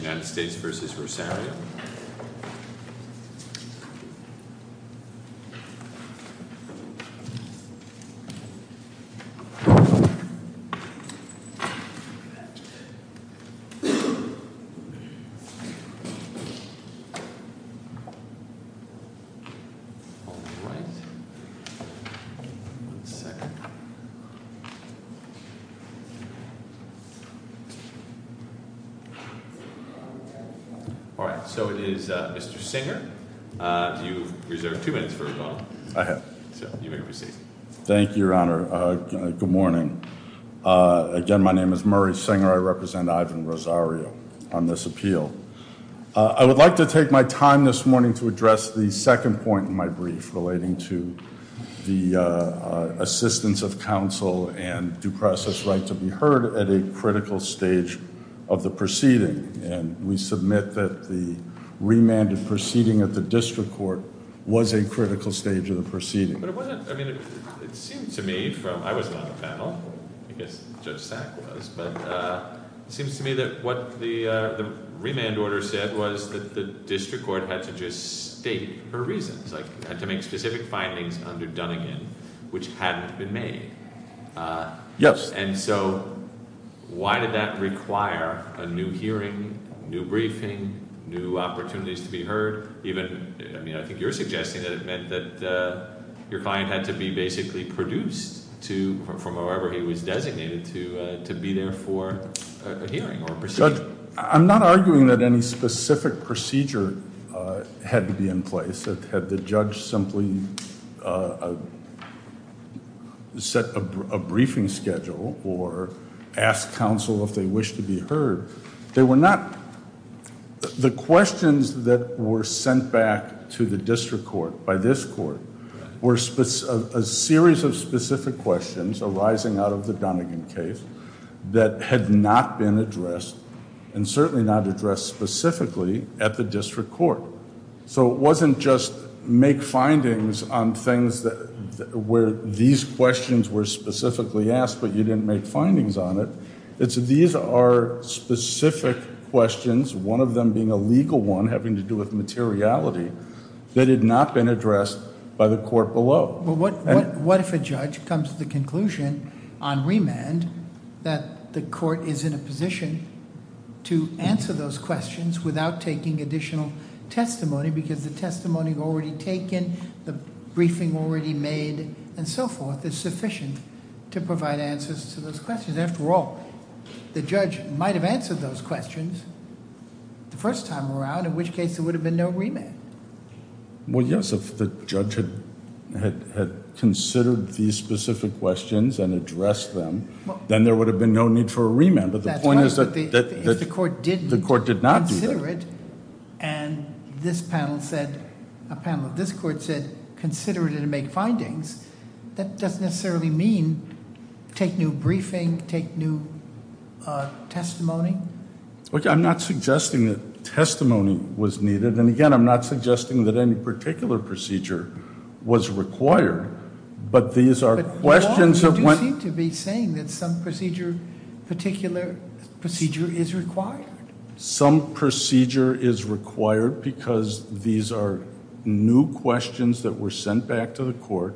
United States v. Rosario All right, so it is Mr. Singer. Do you reserve two minutes for a call? I have. Thank you, Your Honor. Good morning. Again, my name is Murray Singer. I represent Ivan Rosario on this appeal. I would like to take my time this morning to address the second point in my brief relating to the assistance of counsel and due process right to be heard at a critical stage of the proceeding. And we submit that the remanded proceeding at the district court was a critical stage of the proceeding. But it wasn't – I mean, it seemed to me from – I wasn't on the panel. I guess Judge Sack was. But it seems to me that what the remand order said was that the district court had to just state her reasons, like had to make specific findings under Dunnigan which hadn't been made. Yes. And so why did that require a new hearing, new briefing, new opportunities to be heard? Even – I mean I think you're suggesting that it meant that your client had to be basically produced to – from wherever he was designated to be there for a hearing or a procedure. Judge, I'm not arguing that any specific procedure had to be in place. Had the judge simply set a briefing schedule or asked counsel if they wished to be heard. They were not – the questions that were sent back to the district court by this court were a series of specific questions arising out of the Dunnigan case that had not been addressed and certainly not addressed specifically at the district court. So it wasn't just make findings on things that – where these questions were specifically asked but you didn't make findings on it. It's that these are specific questions, one of them being a legal one having to do with materiality, that had not been addressed by the court below. What if a judge comes to the conclusion on remand that the court is in a position to answer those questions without taking additional testimony because the testimony already taken, the briefing already made and so forth is sufficient to provide answers to those questions. After all, the judge might have answered those questions the first time around in which case there would have been no remand. Well, yes, if the judge had considered these specific questions and addressed them, then there would have been no need for a remand. But the point is that the court did not do that. And this panel said – a panel of this court said consider it and make findings. That doesn't necessarily mean take new briefing, take new testimony. Okay, I'm not suggesting that testimony was needed. And again, I'm not suggesting that any particular procedure was required. But these are questions of when – But you do seem to be saying that some procedure, particular procedure is required. Some procedure is required because these are new questions that were sent back to the court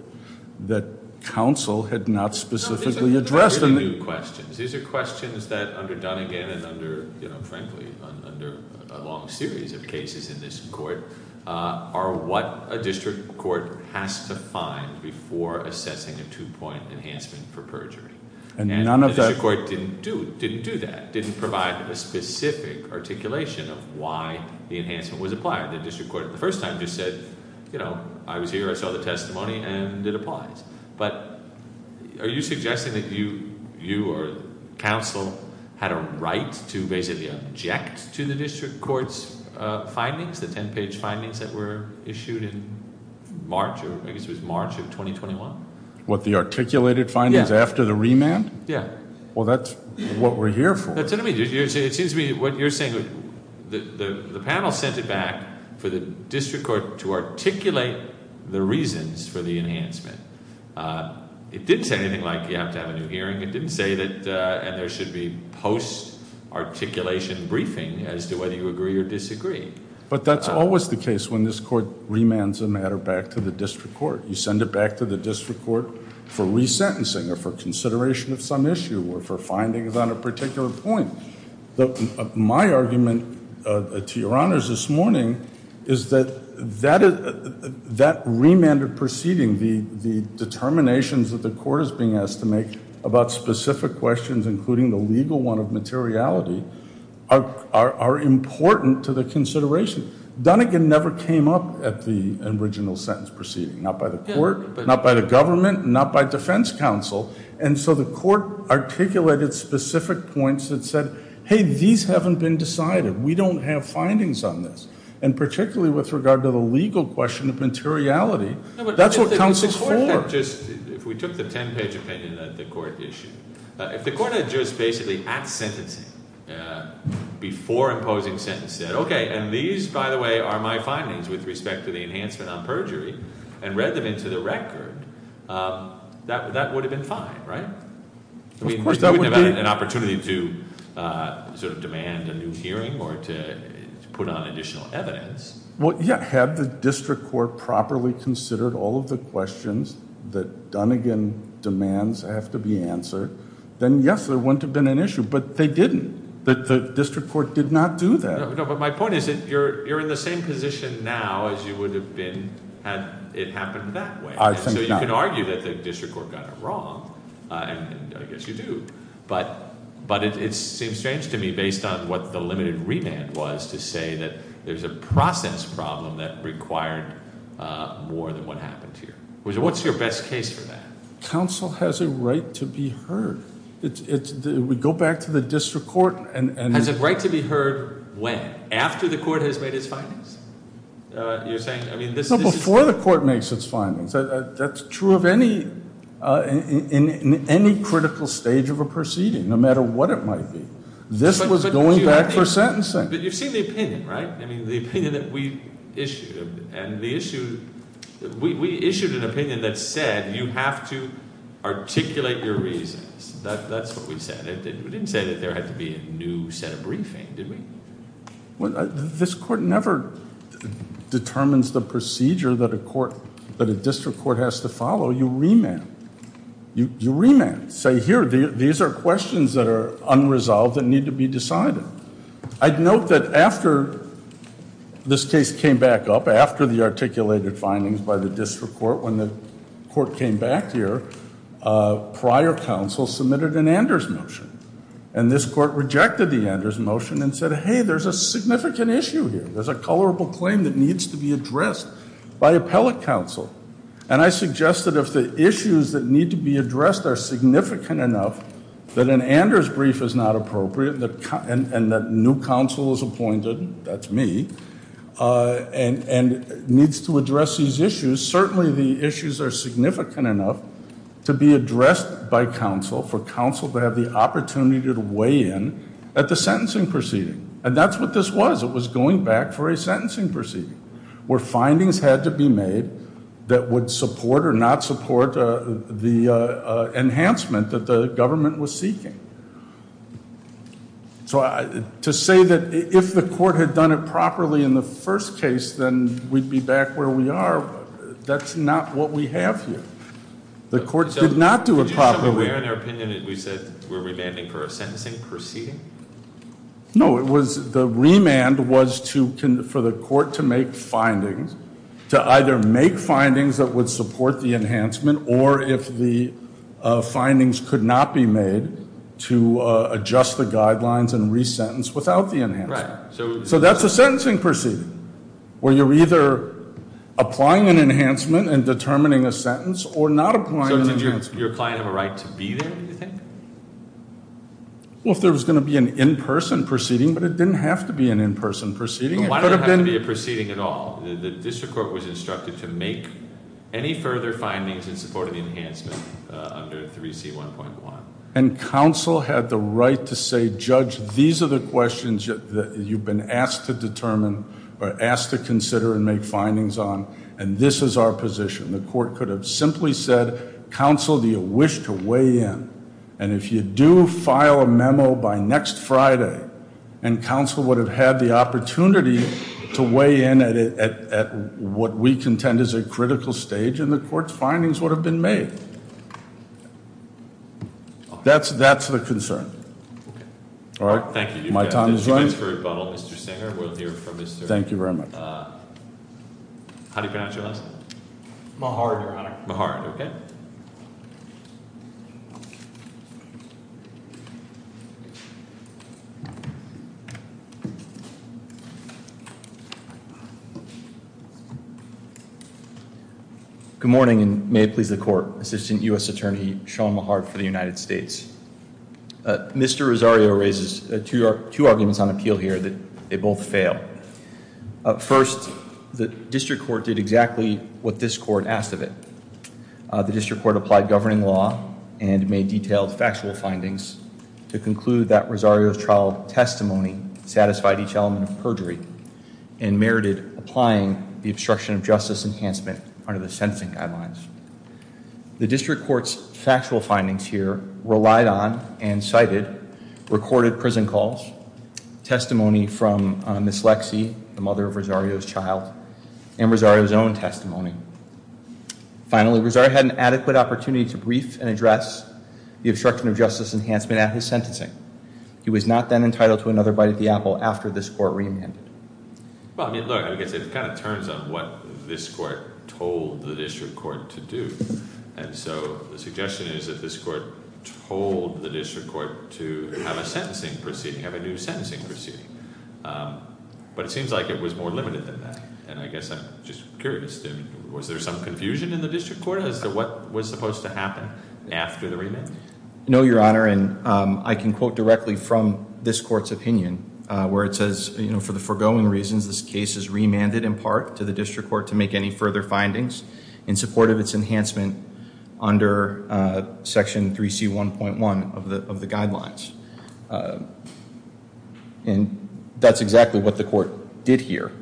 that counsel had not specifically addressed. These are new questions. These are questions that under Dunnegan and under, frankly, under a long series of cases in this court are what a district court has to find before assessing a two-point enhancement for perjury. And the district court didn't do that, didn't provide a specific articulation of why the enhancement was applied. The district court the first time just said I was here, I saw the testimony, and it applies. But are you suggesting that you or counsel had a right to basically object to the district court's findings, the 10-page findings that were issued in March or I guess it was March of 2021? What, the articulated findings after the remand? Yeah. Well, that's what we're here for. It seems to me what you're saying, the panel sent it back for the district court to articulate the reasons for the enhancement. It didn't say anything like you have to have a new hearing. It didn't say that there should be post-articulation briefing as to whether you agree or disagree. But that's always the case when this court remands a matter back to the district court. You send it back to the district court for resentencing or for consideration of some issue or for findings on a particular point. My argument to your honors this morning is that that remanded proceeding, the determinations that the court is being asked to make about specific questions, including the legal one of materiality, are important to the consideration. Donegan never came up at the original sentence proceeding, not by the court, not by the government, not by defense counsel. And so the court articulated specific points that said, hey, these haven't been decided. We don't have findings on this. And particularly with regard to the legal question of materiality, that's what counsel's for. If we took the 10-page opinion that the court issued, if the court had just basically, at sentencing, before imposing sentencing said, okay, and these, by the way, are my findings with respect to the enhancement on perjury, and read them into the record, that would have been fine, right? I mean, you wouldn't have had an opportunity to sort of demand a new hearing or to put on additional evidence. Well, yeah. Had the district court properly considered all of the questions that Donegan demands have to be answered, then, yes, there wouldn't have been an issue. But they didn't. The district court did not do that. No, but my point is that you're in the same position now as you would have been had it happened that way. So you can argue that the district court got it wrong, and I guess you do. But it seems strange to me, based on what the limited remand was, to say that there's a process problem that required more than what happened here. What's your best case for that? Counsel has a right to be heard. We go back to the district court. Has a right to be heard when? After the court has made its findings? You're saying? No, before the court makes its findings. That's true of any critical stage of a proceeding, no matter what it might be. This was going back for sentencing. But you've seen the opinion, right? I mean, the opinion that we issued. And we issued an opinion that said you have to articulate your reasons. That's what we said. We didn't say that there had to be a new set of briefing, did we? This court never determines the procedure that a district court has to follow. You remand. You remand. Say, here, these are questions that are unresolved that need to be decided. I'd note that after this case came back up, after the articulated findings by the district court, when the court came back here, prior counsel submitted an Anders motion. And this court rejected the Anders motion and said, hey, there's a significant issue here. There's a colorable claim that needs to be addressed by appellate counsel. And I suggest that if the issues that need to be addressed are significant enough that an Anders brief is not appropriate, and that new counsel is appointed, that's me, and needs to address these issues, certainly the issues are significant enough to be addressed by counsel, for counsel to have the opportunity to weigh in at the sentencing proceeding. And that's what this was. It was going back for a sentencing proceeding where findings had to be made that would support or not support the enhancement that the government was seeking. So to say that if the court had done it properly in the first case, then we'd be back where we are, that's not what we have here. The court did not do it properly. Were you aware in your opinion that we said we're remanding for a sentencing proceeding? No. The remand was for the court to make findings, to either make findings that would support the enhancement, or if the findings could not be made, to adjust the guidelines and resentence without the enhancement. So that's a sentencing proceeding, where you're either applying an enhancement and determining a sentence, or not applying an enhancement. So did your client have a right to be there, do you think? Well, if there was going to be an in-person proceeding, but it didn't have to be an in-person proceeding. It didn't have to be a proceeding at all. The district court was instructed to make any further findings in support of the enhancement under 3C1.1. And counsel had the right to say, Judge, these are the questions that you've been asked to determine, or asked to consider and make findings on, and this is our position. The court could have simply said, Counsel, do you wish to weigh in? And if you do file a memo by next Friday, and counsel would have had the opportunity to weigh in at what we contend is a critical stage, and the court's findings would have been made. That's the concern. All right. Thank you. My time is running. How do you pronounce your last name? Mahard, Your Honor. Mahard, okay. Good morning, and may it please the Court. Assistant U.S. Attorney Sean Mahard for the United States. Mr. Rosario raises two arguments on appeal here that they both fail. First, the district court did exactly what this court asked of it. The district court applied governing law and made detailed factual findings to conclude that Rosario's trial testimony satisfied each element of perjury and merited applying the obstruction of justice enhancement under the sentencing guidelines. The district court's factual findings here relied on and cited recorded prison calls, testimony from Ms. Lexie, the mother of Rosario's child, and Rosario's own testimony. Finally, Rosario had an adequate opportunity to brief and address the obstruction of justice enhancement at his sentencing. He was not then entitled to another bite of the apple after this court remanded. Well, I mean, look, I guess it kind of turns on what this court told the district court to do. And so the suggestion is that this court told the district court to have a sentencing proceeding, have a new sentencing proceeding. But it seems like it was more limited than that, and I guess I'm just curious. Was there some confusion in the district court as to what was supposed to happen after the remand? No, Your Honor, and I can quote directly from this court's opinion where it says, you know, for the foregoing reasons, this case is remanded in part to the district court to make any further findings in support of its enhancement under Section 3C1.1 of the guidelines. And that's exactly what the court did here.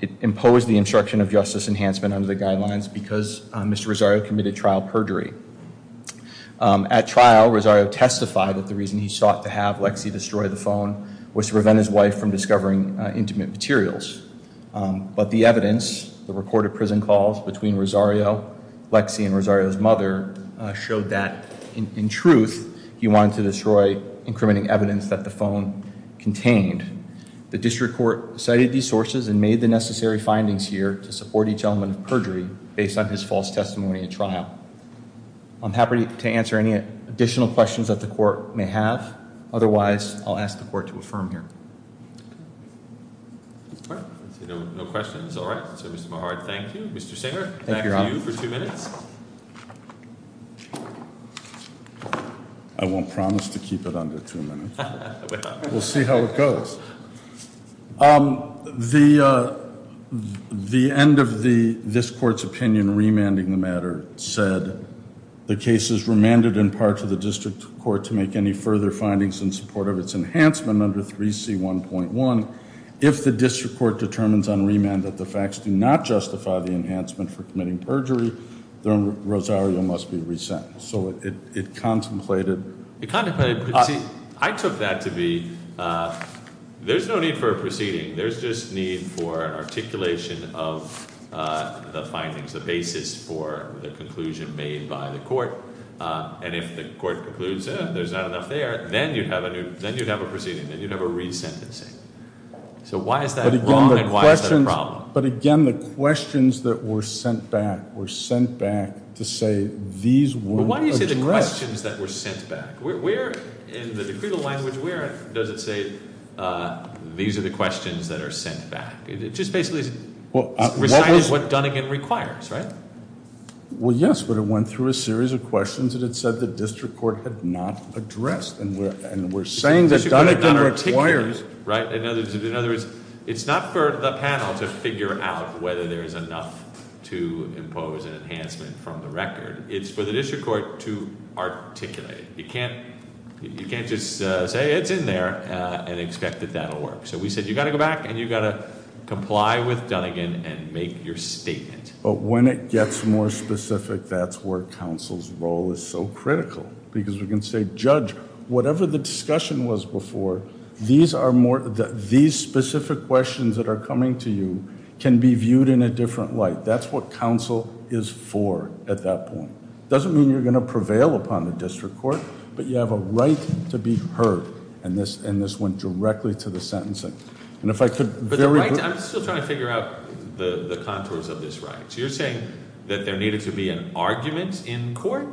It imposed the obstruction of justice enhancement under the guidelines because Mr. Rosario committed trial perjury. At trial, Rosario testified that the reason he sought to have Lexie destroy the phone was to prevent his wife from discovering intimate materials. But the evidence, the recorded prison calls between Rosario, Lexie, and Rosario's mother, showed that in truth he wanted to destroy incrementing evidence that the phone contained. The district court cited these sources and made the necessary findings here to support each element of perjury based on his false testimony at trial. I'm happy to answer any additional questions that the court may have. Otherwise, I'll ask the court to affirm here. All right. No questions? All right. So, Mr. Mehard, thank you. Mr. Singer, back to you for two minutes. I won't promise to keep it under two minutes. We'll see how it goes. The end of this court's opinion remanding the matter said, the case is remanded in part to the district court to make any further findings in support of its enhancement under 3C1.1. If the district court determines on remand that the facts do not justify the enhancement for committing perjury, then Rosario must be resent. So it contemplated. It contemplated. See, I took that to be there's no need for a proceeding. There's just need for an articulation of the findings, the basis for the conclusion made by the court. And if the court concludes there's not enough there, then you'd have a proceeding, then you'd have a resentencing. So why is that wrong and why is that a problem? But, again, the questions that were sent back were sent back to say these were addressed. But why do you say the questions that were sent back? Where in the decretal language, where does it say these are the questions that are sent back? It just basically recited what Dunnigan requires, right? Well, yes, but it went through a series of questions that it said the district court had not addressed. And we're saying that Dunnigan requires. In other words, it's not for the panel to figure out whether there is enough to impose an enhancement from the record. It's for the district court to articulate. You can't just say it's in there and expect that that will work. So we said you've got to go back and you've got to comply with Dunnigan and make your statement. But when it gets more specific, that's where counsel's role is so critical because we can say, Judge, whatever the discussion was before, these specific questions that are coming to you can be viewed in a different light. That's what counsel is for at that point. It doesn't mean you're going to prevail upon the district court, but you have a right to be heard. And this went directly to the sentencing. I'm still trying to figure out the contours of this right. So you're saying that there needed to be an argument in court?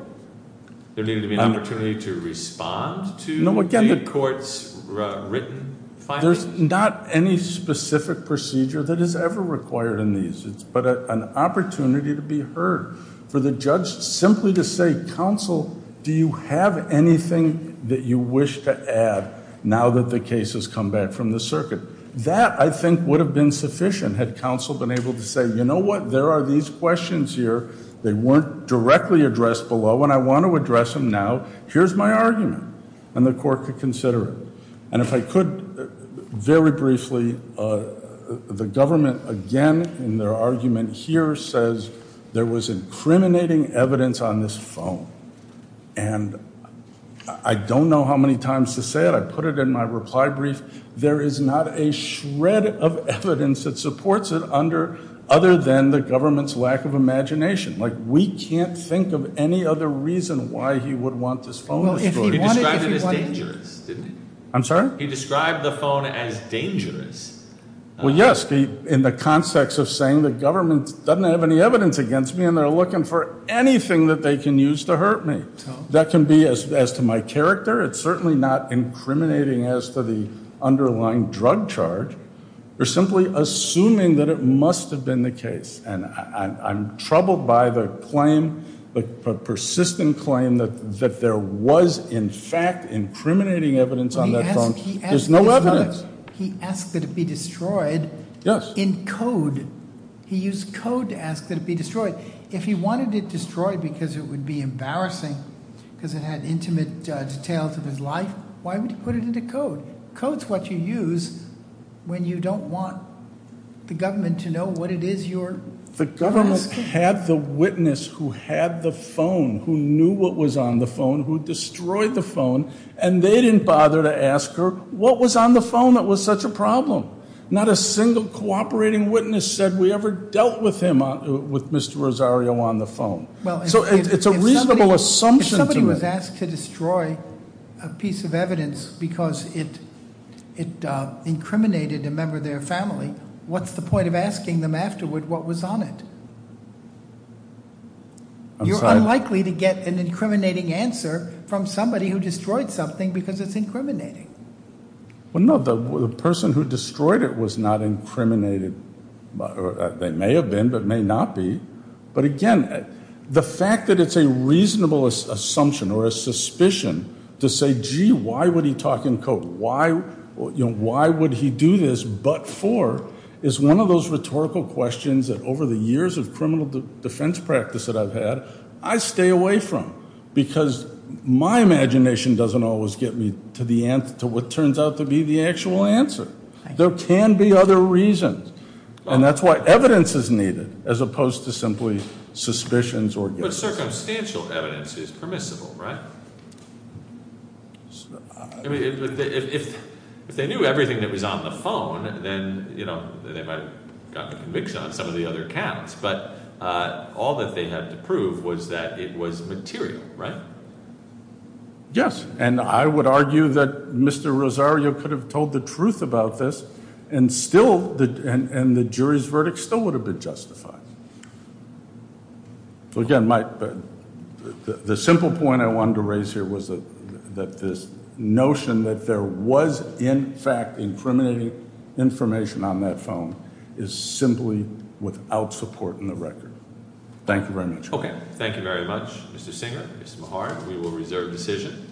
There needed to be an opportunity to respond to the court's written findings? There's not any specific procedure that is ever required in these. It's but an opportunity to be heard. For the judge simply to say, counsel, do you have anything that you wish to add now that the case has come back from the circuit? That, I think, would have been sufficient had counsel been able to say, you know what, there are these questions here. They weren't directly addressed below and I want to address them now. Here's my argument. And the court could consider it. And if I could, very briefly, the government again in their argument here says there was incriminating evidence on this phone. And I don't know how many times to say it. I put it in my reply brief. There is not a shred of evidence that supports it other than the government's lack of imagination. Like we can't think of any other reason why he would want this phone. He described it as dangerous, didn't he? I'm sorry? He described the phone as dangerous. Well, yes. In the context of saying the government doesn't have any evidence against me and they're looking for anything that they can use to hurt me. That can be as to my character. It's certainly not incriminating as to the underlying drug charge. They're simply assuming that it must have been the case. And I'm troubled by the claim, the persistent claim that there was in fact incriminating evidence on that phone. There's no evidence. He asked that it be destroyed in code. He used code to ask that it be destroyed. If he wanted it destroyed because it would be embarrassing because it had intimate details of his life, why would he put it into code? Code's what you use when you don't want the government to know what it is you're asking. The government had the witness who had the phone, who knew what was on the phone, who destroyed the phone. And they didn't bother to ask her what was on the phone that was such a problem. Not a single cooperating witness said we ever dealt with him, with Mr. Rosario, on the phone. So it's a reasonable assumption to make. If you ask to destroy a piece of evidence because it incriminated a member of their family, what's the point of asking them afterward what was on it? You're unlikely to get an incriminating answer from somebody who destroyed something because it's incriminating. Well, no, the person who destroyed it was not incriminated. They may have been, but may not be. But again, the fact that it's a reasonable assumption or a suspicion to say, gee, why would he talk in code? Why would he do this but for is one of those rhetorical questions that over the years of criminal defense practice that I've had, I stay away from. Because my imagination doesn't always get me to what turns out to be the actual answer. There can be other reasons. And that's why evidence is needed as opposed to simply suspicions or guesses. But circumstantial evidence is permissible, right? I mean, if they knew everything that was on the phone, then they might have gotten conviction on some of the other counts. But all that they had to prove was that it was material, right? Yes. And I would argue that Mr. Rosario could have told the truth about this and still and the jury's verdict still would have been justified. So, again, the simple point I wanted to raise here was that this notion that there was, in fact, incriminating information on that phone is simply without support in the record. Thank you very much. Okay. Thank you very much. Mr. Singer, Ms. Mehar, we will reserve decision.